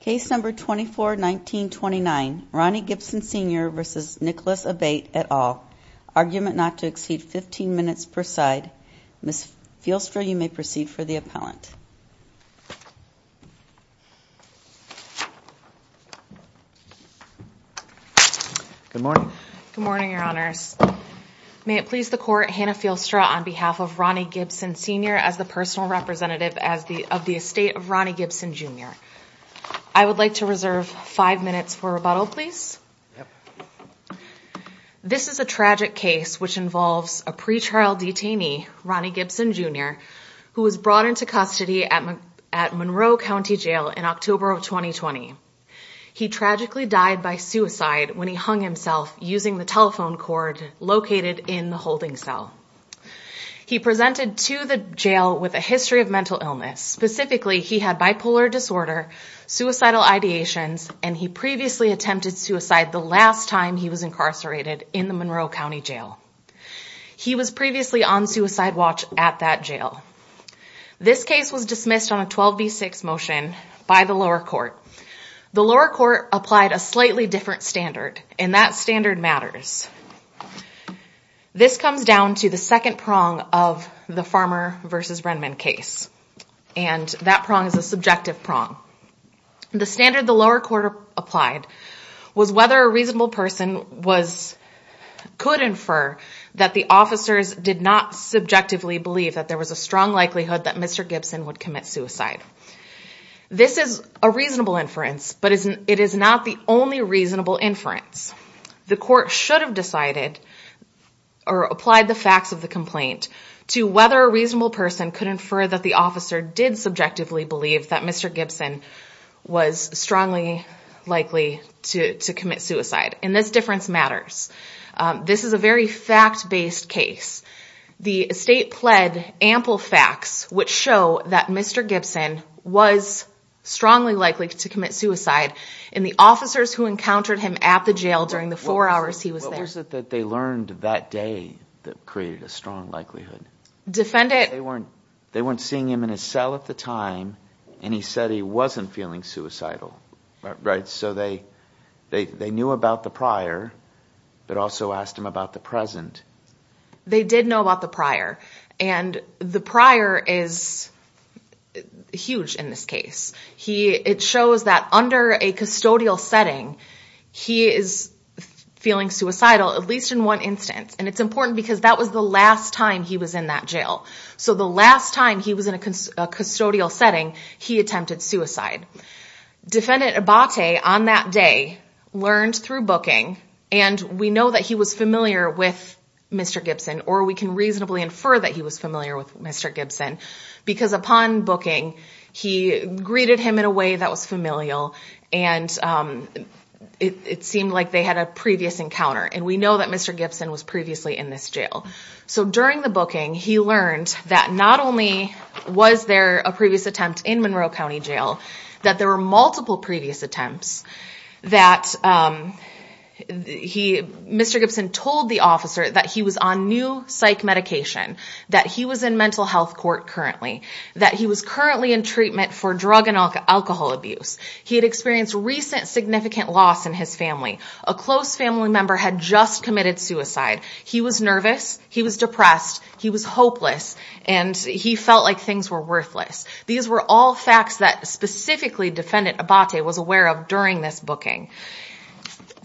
Case No. 24-1929 Ronnie Gibson Sr v. Nicholas Abate et al. Argument not to exceed 15 minutes per side. Ms. Fielstra, you may proceed for the appellant. Good morning. Good morning, Your Honors. May it please the Court, Hannah Fielstra on behalf of Ronnie Gibson Sr as the personal representative of the estate of Ronnie Gibson Jr. I would like to reserve five minutes for rebuttal, please. This is a tragic case which involves a pre-trial detainee, Ronnie Gibson Jr., who was brought into custody at Monroe County Jail in October of 2020. He tragically died by suicide when he hung himself using the telephone cord located in the holding cell. He presented to the jail with a history of mental illness. Specifically, he had bipolar disorder, suicidal ideations, and he previously attempted suicide the last time he was incarcerated in the Monroe County Jail. He was previously on suicide watch at that jail. This case was dismissed on a 12 v. 6 motion by the lower court. The lower court applied a slightly different standard, and that standard matters. This comes down to the second prong of the Farmer v. Renman case, and that prong is a subjective prong. The standard the lower court applied was whether a reasonable person could infer that the officers did not subjectively believe that there was a strong likelihood that Mr. Gibson would commit suicide. This is a reasonable inference, but it is not the only reasonable inference. The court should have decided or applied the facts of the complaint to whether a reasonable person could infer that the officer did subjectively believe that Mr. Gibson was strongly likely to commit suicide, and this difference matters. This is a very fact-based case. The state pled ample facts which show that Mr. Gibson was strongly likely to commit suicide, and the officers who encountered him at the jail during the four hours he was there. What was it that they learned that day that created a strong likelihood? They weren't seeing him in his cell at the time, and he said he wasn't feeling suicidal. So they knew about the prior, but also asked him about the present. They did know about the prior, and the prior is huge in this case. It shows that under a custodial setting, he is feeling suicidal at least in one instance, and it's important because that was the last time he was in that jail. So the last time he was in a custodial setting, he attempted suicide. Defendant Abate on that day learned through booking, and we know that he was familiar with Mr. Gibson, or we can reasonably infer that he was familiar with Mr. Gibson, because upon booking, he greeted him in a way that was familial, and it seemed like they had a previous encounter, and we know that Mr. Gibson was previously in this jail. So during the booking, he learned that not only was there a previous attempt in Monroe County Jail, that there were multiple previous attempts, that Mr. Gibson told the officer that he was on new psych medication, that he was in mental health court currently, that he was currently in treatment for drug and alcohol abuse. He had experienced recent significant loss in his family. A close family member had just committed suicide. He was nervous, he was depressed, he was hopeless, and he felt like things were worthless. These were all facts that specifically Defendant Abate was aware of during this booking.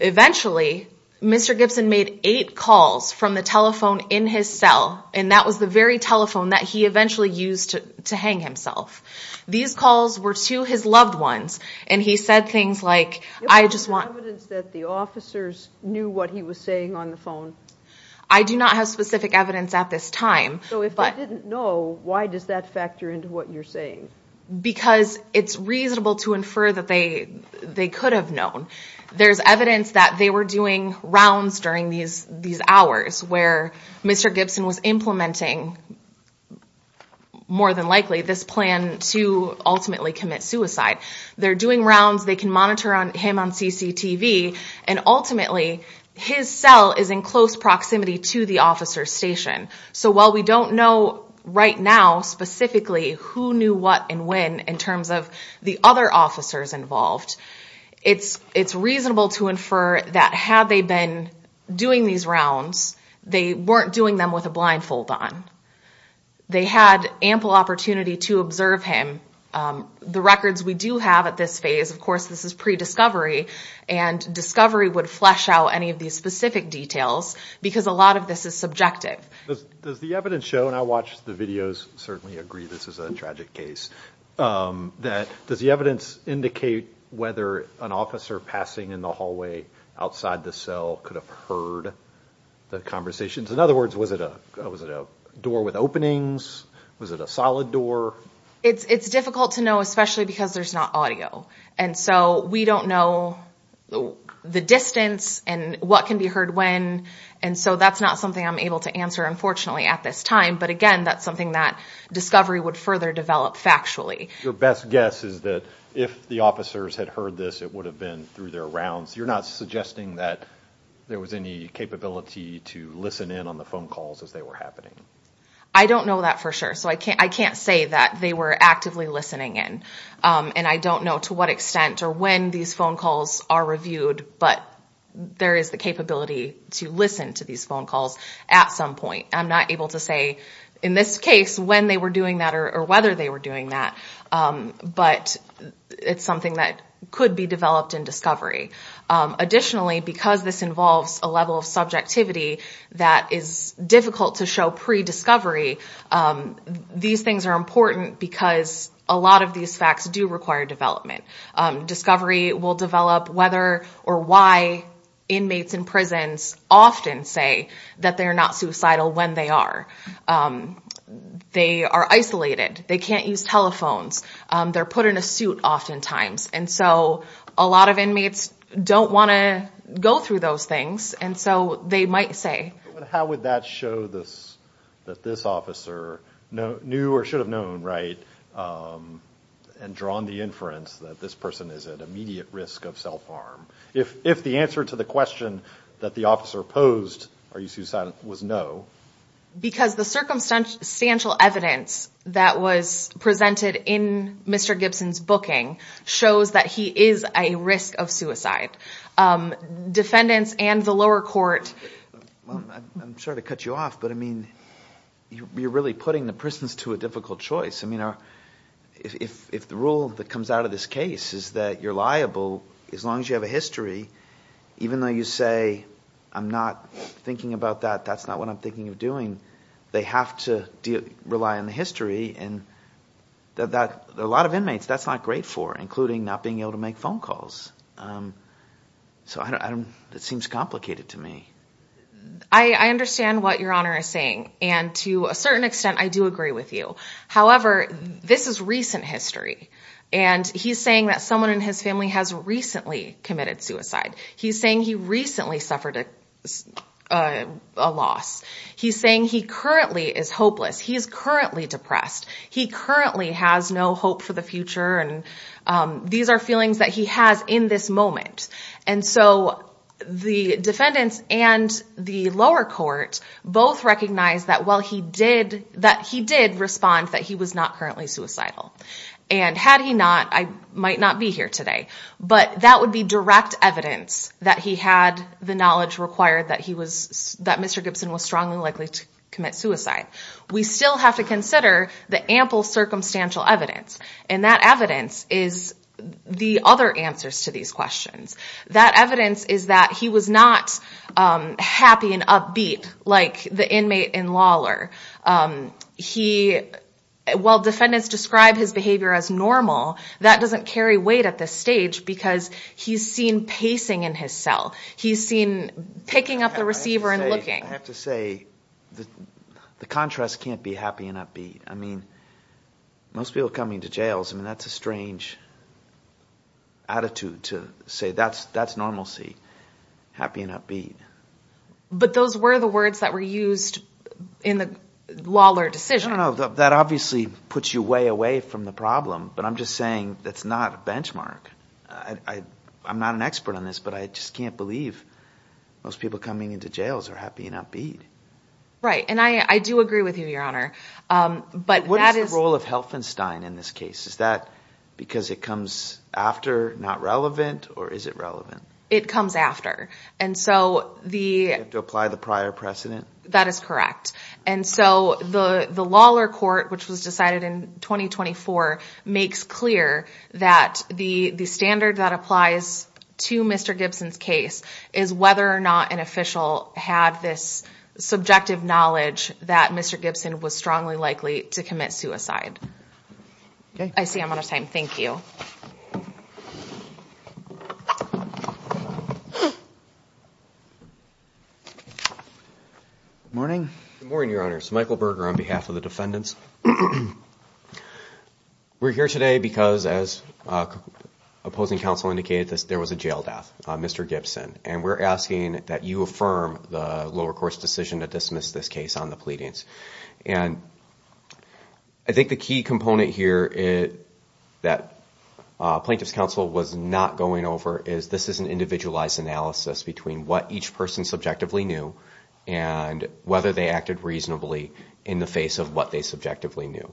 Eventually, Mr. Gibson made eight calls from the telephone in his cell, and that was the very telephone that he eventually used to hang himself. These calls were to his loved ones, and he said things like, I just want evidence that the officers knew what he was saying on the phone. I do not have specific evidence at this time. So if they didn't know, why does that factor into what you're saying? Because it's reasonable to infer that they could have known. There's evidence that they were doing rounds during these hours, where Mr. Gibson was implementing, more than likely, this plan to ultimately commit suicide. They're doing rounds, they can monitor him on CCTV, and ultimately his cell is in close proximity to the officer's station. So while we don't know right now, specifically, who knew what and when, in terms of the other officers involved, it's reasonable to infer that had they been doing these rounds, they weren't doing them with a blindfold on. They had ample opportunity to observe him. The records we do have at this phase, of course this is pre-discovery, and discovery would flesh out any of these specific details, because a lot of this is subjective. Does the evidence show, and I watched the videos, certainly agree this is a tragic case, does the evidence indicate whether an officer passing in the hallway, outside the cell, could have heard the conversations? In other words, was it a door with openings? Was it a solid door? It's difficult to know, especially because there's not audio. We don't know the distance and what can be heard when, and so that's not something I'm able to answer, unfortunately, at this time. But again, that's something that discovery would further develop factually. Your best guess is that if the officers had heard this, it would have been through their rounds. You're not suggesting that there was any capability to listen in on the phone calls as they were happening? I don't know that for sure, so I can't say that they were actively listening in. And I don't know to what extent or when these phone calls are reviewed, but there is the capability to listen to these phone calls at some point. I'm not able to say, in this case, when they were doing that or whether they were doing that, but it's something that could be developed in discovery. Additionally, because this involves a level of subjectivity that is difficult to show pre-discovery, these things are important because a lot of these facts do require development. Discovery will develop whether or why inmates in prisons often say that they're not suicidal when they are. They are isolated. They can't use telephones. They're put in a suit oftentimes. And so a lot of inmates don't want to go through those things, and so they might say. But how would that show that this officer knew or should have known, right, and drawn the inference that this person is at immediate risk of self-harm? If the answer to the question that the officer posed, are you suicidal, was no. Because the circumstantial evidence that was presented in Mr. Gibson's booking shows that he is a risk of suicide. Defendants and the lower court. I'm sorry to cut you off, but you're really putting the prisons to a difficult choice. If the rule that comes out of this case is that you're liable as long as you have a history, even though you say, I'm not thinking about that, that's not what I'm thinking of doing, they have to rely on the history. A lot of inmates, that's not great for, including not being able to make phone calls. So it seems complicated to me. I understand what Your Honor is saying, and to a certain extent I do agree with you. However, this is recent history, and he's saying that someone in his family has recently committed suicide. He's saying he recently suffered a loss. He's saying he currently is hopeless. He's currently depressed. He currently has no hope for the future, and these are feelings that he has in this moment. And so the defendants and the lower court both recognized that he did respond that he was not currently suicidal. And had he not, I might not be here today. But that would be direct evidence that he had the knowledge required that he was, that Mr. Gibson was strongly likely to commit suicide. We still have to consider the ample circumstantial evidence. And that evidence is the other answers to these questions. That evidence is that he was not happy and upbeat like the inmate and lawler. While defendants describe his behavior as normal, that doesn't carry weight at this stage, because he's seen pacing in his cell. He's seen picking up the receiver and looking. I have to say the contrast can't be happy and upbeat. I mean, most people coming to jail, that's a strange attitude to say that's normalcy, happy and upbeat. But those were the words that were used in the lawler decision. That obviously puts you way away from the problem. But I'm just saying that's not a benchmark. I'm not an expert on this, but I just can't believe most people coming into jails are happy and upbeat. Right. And I do agree with you, Your Honor. But what is the role of Helfenstein in this case? Is that because it comes after not relevant or is it relevant? It comes after. And so the apply the prior precedent. That is correct. And so the lawler court, which was decided in 2024, makes clear that the standard that applies to Mr. Gibson's case is whether or not an official had this subjective knowledge that Mr. Gibson was strongly likely to commit suicide. I see I'm out of time. Thank you. Morning. Good morning, Your Honor. Michael Berger on behalf of the defendants. We're here today because, as opposing counsel indicated, there was a jail death, Mr. Gibson. And I think the key component here that plaintiff's counsel was not going over is this is an individualized analysis between what each person subjectively knew and whether they acted reasonably in the face of what they subjectively knew.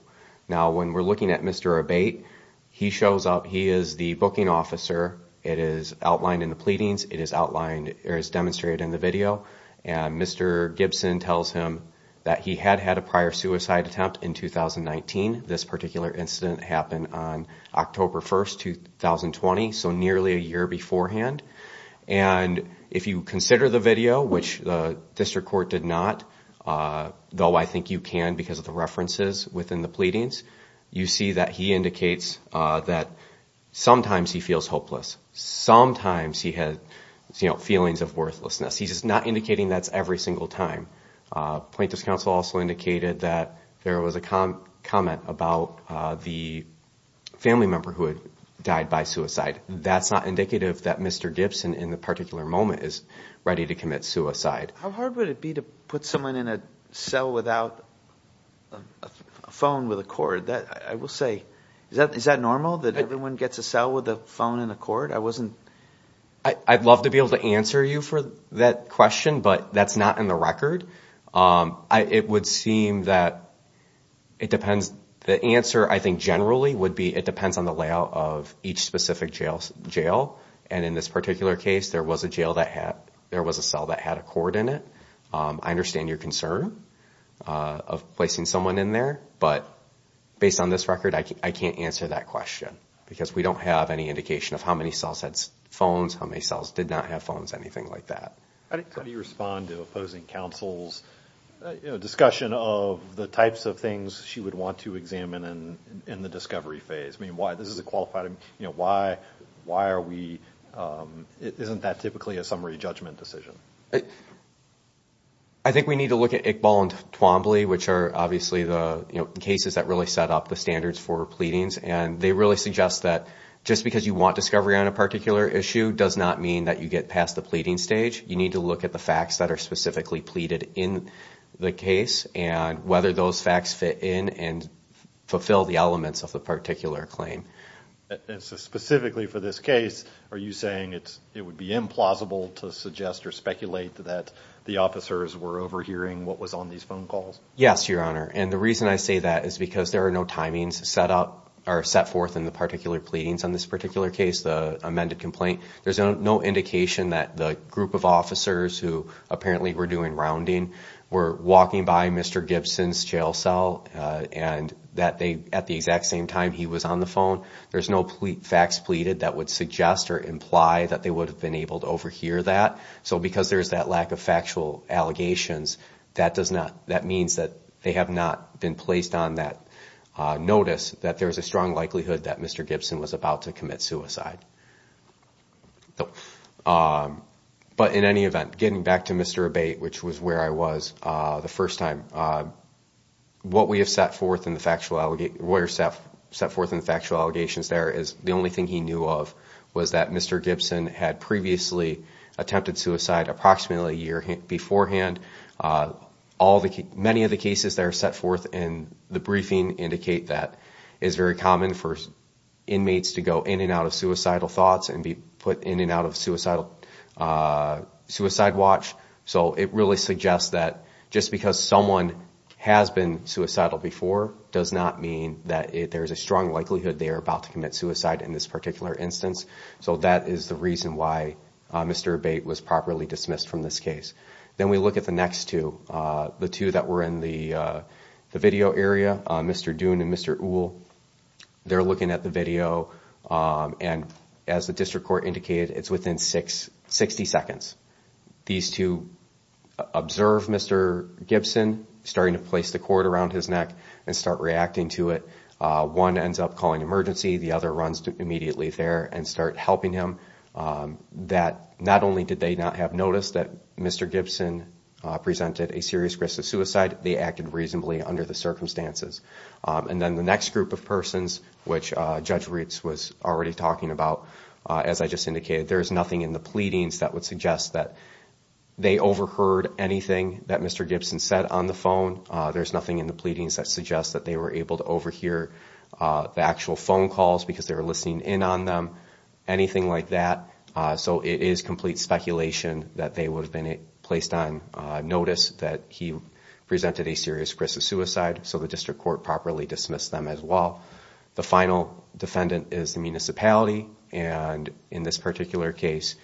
Now, when we're looking at Mr. Abate, he shows up. He is the booking officer. It is outlined in the pleadings. It is outlined or is demonstrated in the video. And Mr. Gibson tells him that he had had a prior suicide attempt in 2019. This particular incident happened on October 1st, 2020, so nearly a year beforehand. And if you consider the video, which the district court did not, though I think you can because of the references within the pleadings, you see that he indicates that sometimes he feels hopeless. Sometimes he had feelings of worthlessness. He's not indicating that's every single time. Plaintiff's counsel also indicated that there was a comment about the family member who had died by suicide. That's not indicative that Mr. Gibson in the particular moment is ready to commit suicide. How hard would it be to put someone in a cell without a phone with a cord? I will say, is that normal that everyone gets a cell with a phone and a cord? I'd love to be able to answer you for that question, but that's not in the record. It would seem that it depends. The answer I think generally would be it depends on the layout of each specific jail. And in this particular case, there was a cell that had a cord in it. I understand your concern of placing someone in there, but based on this record, I can't answer that question because we don't have any indication of how many cells had phones, how many cells did not have phones, anything like that. How do you respond to opposing counsel's discussion of the types of things she would want to examine in the discovery phase? Isn't that typically a summary judgment decision? I think we need to look at Iqbal and Twombly, which are obviously the cases that really set up the standards for pleadings. And they really suggest that just because you want discovery on a particular issue does not mean that you get past the pleading stage. You need to look at the facts that are specifically pleaded in the case and whether those facts fit in and fulfill the elements of the particular claim. Specifically for this case, are you saying it would be implausible to suggest or speculate that the officers were overhearing what was on these phone calls? Yes, Your Honor. And the reason I say that is because there are no timings set forth in the particular pleadings on this particular case, the amended complaint. There's no indication that the group of officers who apparently were doing rounding were walking by Mr. Gibson's jail cell and that at the exact same time he was on the phone. There's no facts pleaded that would suggest or imply that they would have been able to overhear that. So because there's that lack of factual allegations, that means that they have not been placed on that notice that there's a strong likelihood that Mr. Gibson was about to commit suicide. But in any event, getting back to Mr. Abate, which was where I was the first time, what we have set forth in the factual allegations there is the only thing he knew of was that Mr. Gibson had previously attempted suicide approximately a year beforehand. Many of the cases that are set forth in the briefing indicate that it's very common for inmates to go in and out of suicidal thoughts and be put in and out of suicide watch. So it really suggests that just because someone has been suicidal before does not mean that there's a strong likelihood they are about to commit suicide in this particular instance. So that is the reason why Mr. Abate was properly dismissed from this case. Then we look at the next two. The two that were in the video area, Mr. Doon and Mr. Uhl, they're looking at the video and as the district court indicated, it's within 60 seconds. These two observe Mr. Gibson starting to place the cord around his neck and start reacting to it. One ends up calling emergency, the other runs immediately there and start helping him. Not only did they not have noticed that Mr. Gibson presented a serious risk of suicide, they acted reasonably under the circumstances. And then the next group of persons, which Judge Reitz was already talking about, as I just indicated, there's nothing in the pleadings that would suggest that they overheard anything that Mr. Gibson said on the phone. There's nothing in the pleadings that suggests that they were able to overhear the actual phone calls because they were listening in on them, anything like that. So it is complete speculation that they would have been placed on notice that he presented a serious risk of suicide. So the district court properly dismissed them as well. The final defendant is the municipality, and in this particular case,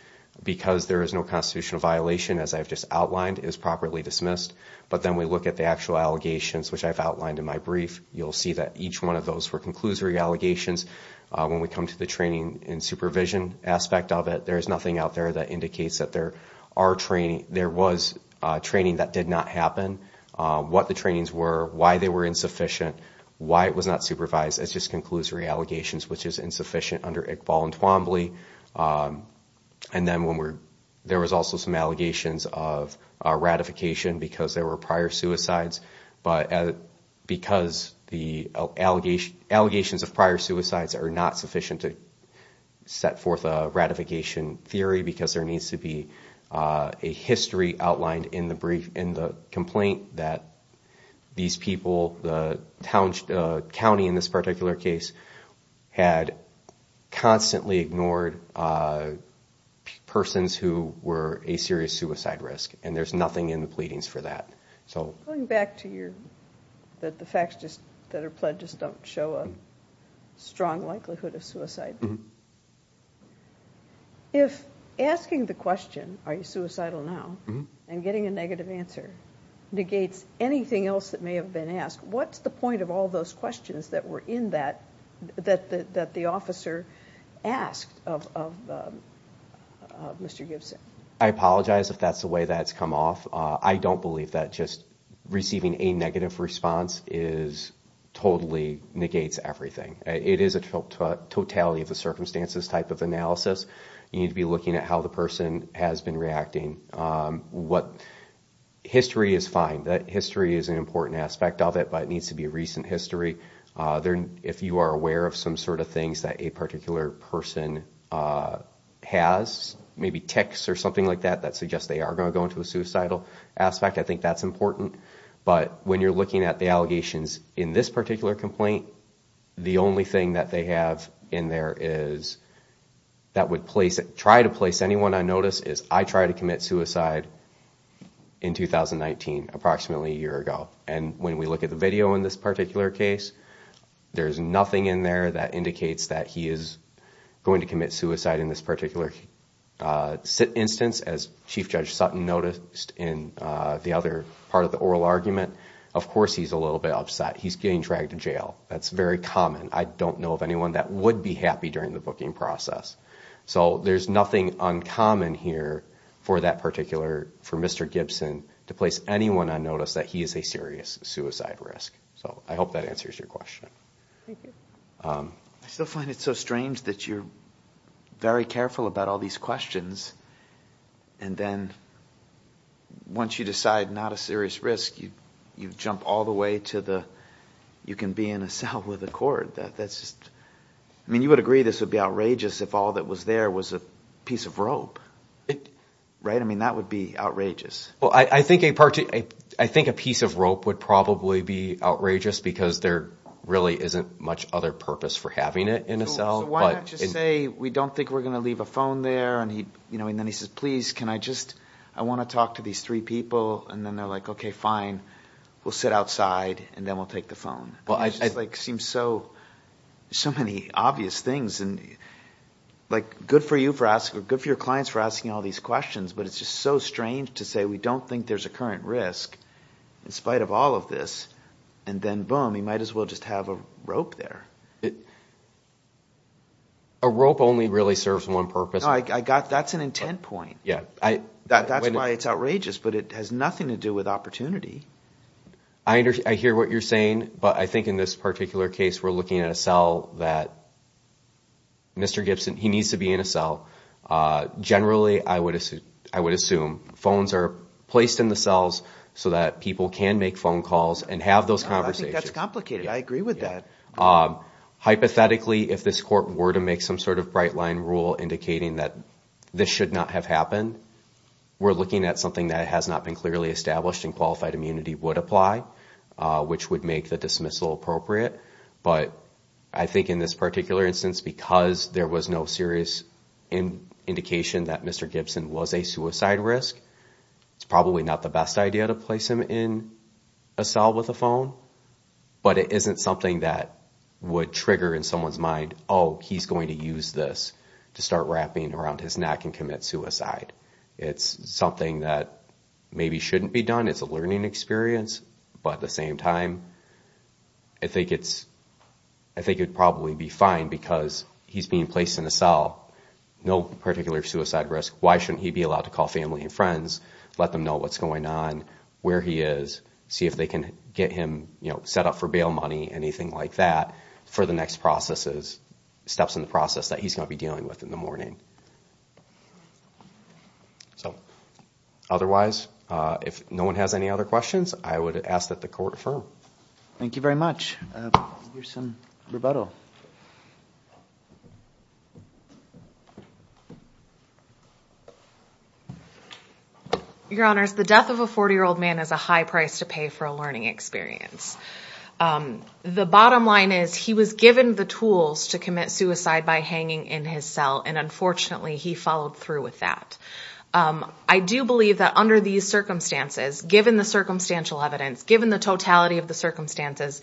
because there is no constitutional violation, as I've just outlined, is properly dismissed. But then we look at the actual allegations, which I've outlined in my brief. You'll see that each one of those were conclusory allegations. When we come to the training and supervision aspect of it, there's nothing out there that indicates that there was training that did not happen, what the trainings were, why they were insufficient, why it was not supervised. It's just conclusory allegations, which is insufficient under Iqbal and Twombly. And then there was also some allegations of ratification because there were prior suicides. But because the allegations of prior suicides are not sufficient to set forth a ratification theory, because there needs to be a history outlined in the complaint that these people, the county in this particular case, had constantly ignored the fact that there were prior suicides. They ignored persons who were a serious suicide risk, and there's nothing in the pleadings for that. Going back to your, that the facts that are pledged just don't show a strong likelihood of suicide. If asking the question, are you suicidal now, and getting a negative answer negates anything else that may have been asked, what's the point of all those questions that were in that, that the officer asked of Mr. Gibson? I apologize if that's the way that's come off. I don't believe that just receiving a negative response totally negates everything. It is a totality of the circumstances type of analysis. You need to be looking at how the person has been reacting. History is fine. History is an important aspect of it, but it needs to be a recent history. If you are aware of some sort of things that a particular person has, maybe texts or something like that that suggest they are going to go into a suicidal aspect, I think that's important. But when you're looking at the allegations in this particular complaint, the only thing that they have in there that would try to place anyone on notice is, I tried to commit suicide in 2019, approximately a year ago. And when we look at the video in this particular case, there's nothing in there that indicates that he is going to commit suicide in this particular instance. As Chief Judge Sutton noticed in the other part of the oral argument, of course he's a little bit upset. He's getting dragged to jail. That's very common. I don't know of anyone that would be happy during the booking process. So there's nothing uncommon here for Mr. Gibson to place anyone on notice that he is a serious suicide risk. So I hope that answers your question. I still find it so strange that you're very careful about all these questions, and then once you decide not a serious risk, you jump all the way to the, you can be in a cell with a cord. I mean, you would agree this would be outrageous if all that was there was a piece of rope, right? I mean, that would be outrageous. I think a piece of rope would probably be outrageous because there really isn't much other purpose for having it in a cell. So why not just say, we don't think we're going to leave a phone there. And then he says, please, can I just, I want to talk to these three people. And then they're like, okay, fine. We'll sit outside, and then we'll take the phone. It just seems so many obvious things. Good for your clients for asking all these questions, but it's just so strange to say we don't think there's a current risk in spite of all of this. And then boom, you might as well just have a rope there. A rope only really serves one purpose. That's an intent point. That's why it's outrageous, but it has nothing to do with opportunity. I hear what you're saying, but I think in this particular case, we're looking at a cell that Mr. Gibson, he needs to be in a cell. Generally, I would assume phones are placed in the cells so that people can make phone calls and have those conversations. I think that's complicated. I agree with that. Hypothetically, if this court were to make some sort of bright line rule indicating that this should not have happened, we're looking at something that has not been clearly established and qualified immunity would apply, which would make the dismissal appropriate. But I think in this particular instance, because there was no serious indication that Mr. Gibson was a suicide risk, it's probably not the best idea to place him in a cell with a phone. But it isn't something that would trigger in someone's mind, oh, he's going to use this to start wrapping around his neck and commit suicide. It's something that maybe shouldn't be done. It's a learning experience. But at the same time, I think it would probably be fine because he's being placed in a cell, no particular suicide risk. Why shouldn't he be allowed to call family and friends, let them know what's going on, where he is, see if they can get him set up for suicide. If not, for bail money, anything like that, for the next steps in the process that he's going to be dealing with in the morning. Otherwise, if no one has any other questions, I would ask that the court affirm. Thank you very much. Here's some rebuttal. Your Honors, the death of a 40-year-old man is a high price to pay for a learning experience. The bottom line is, he was given the tools to commit suicide by hanging in his cell, and unfortunately, he followed through with that. I do believe that under these circumstances, given the circumstantial evidence, given the totality of the circumstances,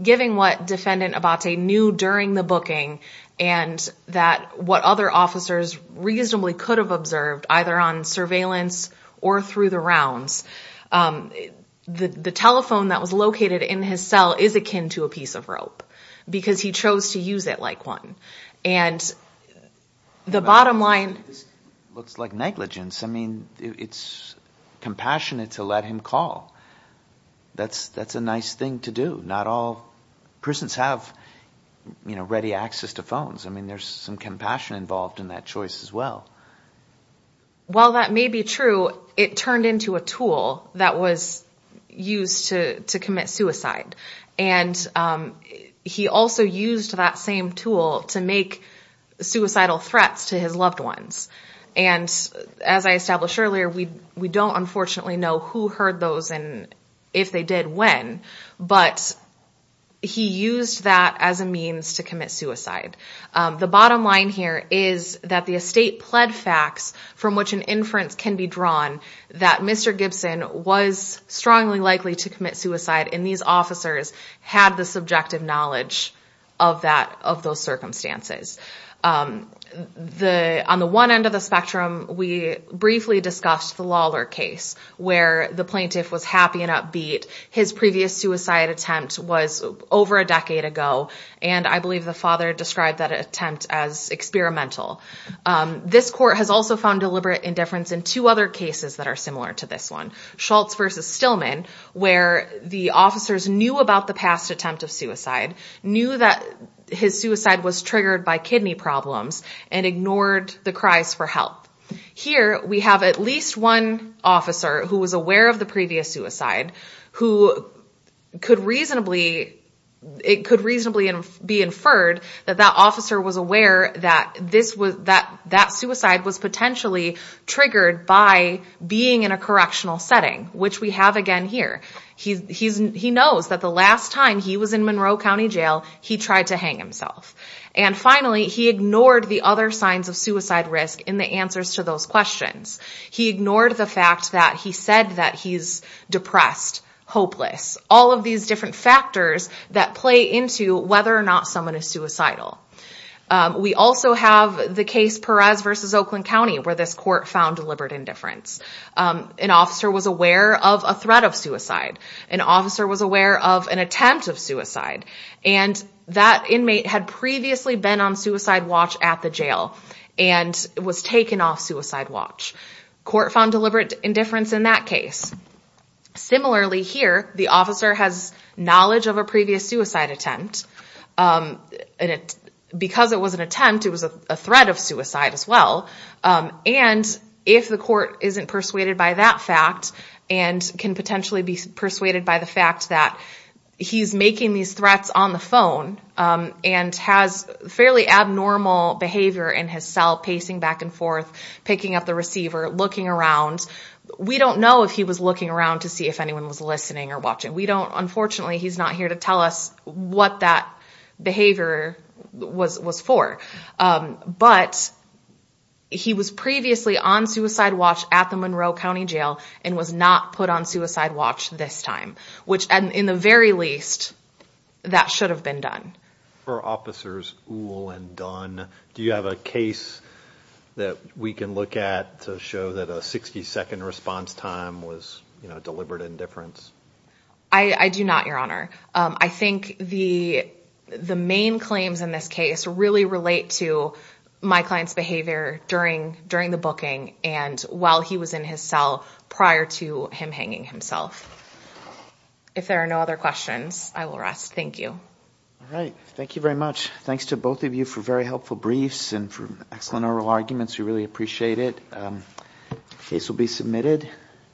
given the fact that he was hanging in his cell, given what Defendant Abate knew during the booking, and what other officers reasonably could have observed, either on surveillance or through the rounds, the telephone that was located in his cell is akin to a piece of rope. Because he chose to use it like one. The bottom line... That's a nice thing to do. Not all prisons have ready access to phones. There's some compassion involved in that choice as well. While that may be true, it turned into a tool that was used to commit suicide. He also used that same tool to make suicidal threats to his loved ones. He may not have chosen if they did when, but he used that as a means to commit suicide. The bottom line here is that the estate pled facts from which an inference can be drawn that Mr. Gibson was strongly likely to commit suicide, and these officers had the subjective knowledge of those circumstances. On the one end of the spectrum, we briefly discussed the Lawler case, where the plaintiff was happy and upbeat. His previous suicide attempt was over a decade ago, and I believe the father described that attempt as experimental. This court has also found deliberate indifference in two other cases that are similar to this one. Schultz v. Stillman, where the officers knew about the past attempt of suicide, knew that his suicide was triggered by the fact that he had kidney problems and ignored the cries for help. Here, we have at least one officer who was aware of the previous suicide, who could reasonably be inferred that that officer was aware that that suicide was potentially triggered by being in a correctional setting, which we have again here. He knows that the last time he was in Monroe County Jail, he tried to hang himself. Unfortunately, he ignored the other signs of suicide risk in the answers to those questions. He ignored the fact that he said that he's depressed, hopeless. All of these different factors that play into whether or not someone is suicidal. We also have the case Perez v. Oakland County, where this court found deliberate indifference. An officer was aware of a threat of suicide. An officer was aware of an attempt of suicide. That inmate had previously been on suicide watch at the jail and was taken off suicide watch. Court found deliberate indifference in that case. Similarly, here, the officer has knowledge of a previous suicide attempt. Because it was an attempt, it was a threat of suicide as well. If the court isn't persuaded by that fact and can potentially be persuaded by the fact that he's making these threats on the phone and has fairly abnormal behavior in his cell, pacing back and forth, picking up the receiver, looking around. We don't know if he was looking around to see if anyone was listening or watching. Unfortunately, he's not here to tell us what that behavior was for. But he was previously on suicide watch at the Monroe County Jail and was not put on suicide watch this time. In the very least, that should have been done. For officers Uhl and Dunn, do you have a case that we can look at to show that a 60-second response time was deliberate indifference? I do not, Your Honor. I think the main claims in this case really relate to my client's behavior during the booking and while he was in his cell prior to him hanging himself. If there are no other questions, I will rest. Thank you. All right. Thank you very much. Thanks to both of you for very helpful briefs and for excellent oral arguments. We really appreciate it. The case will be submitted.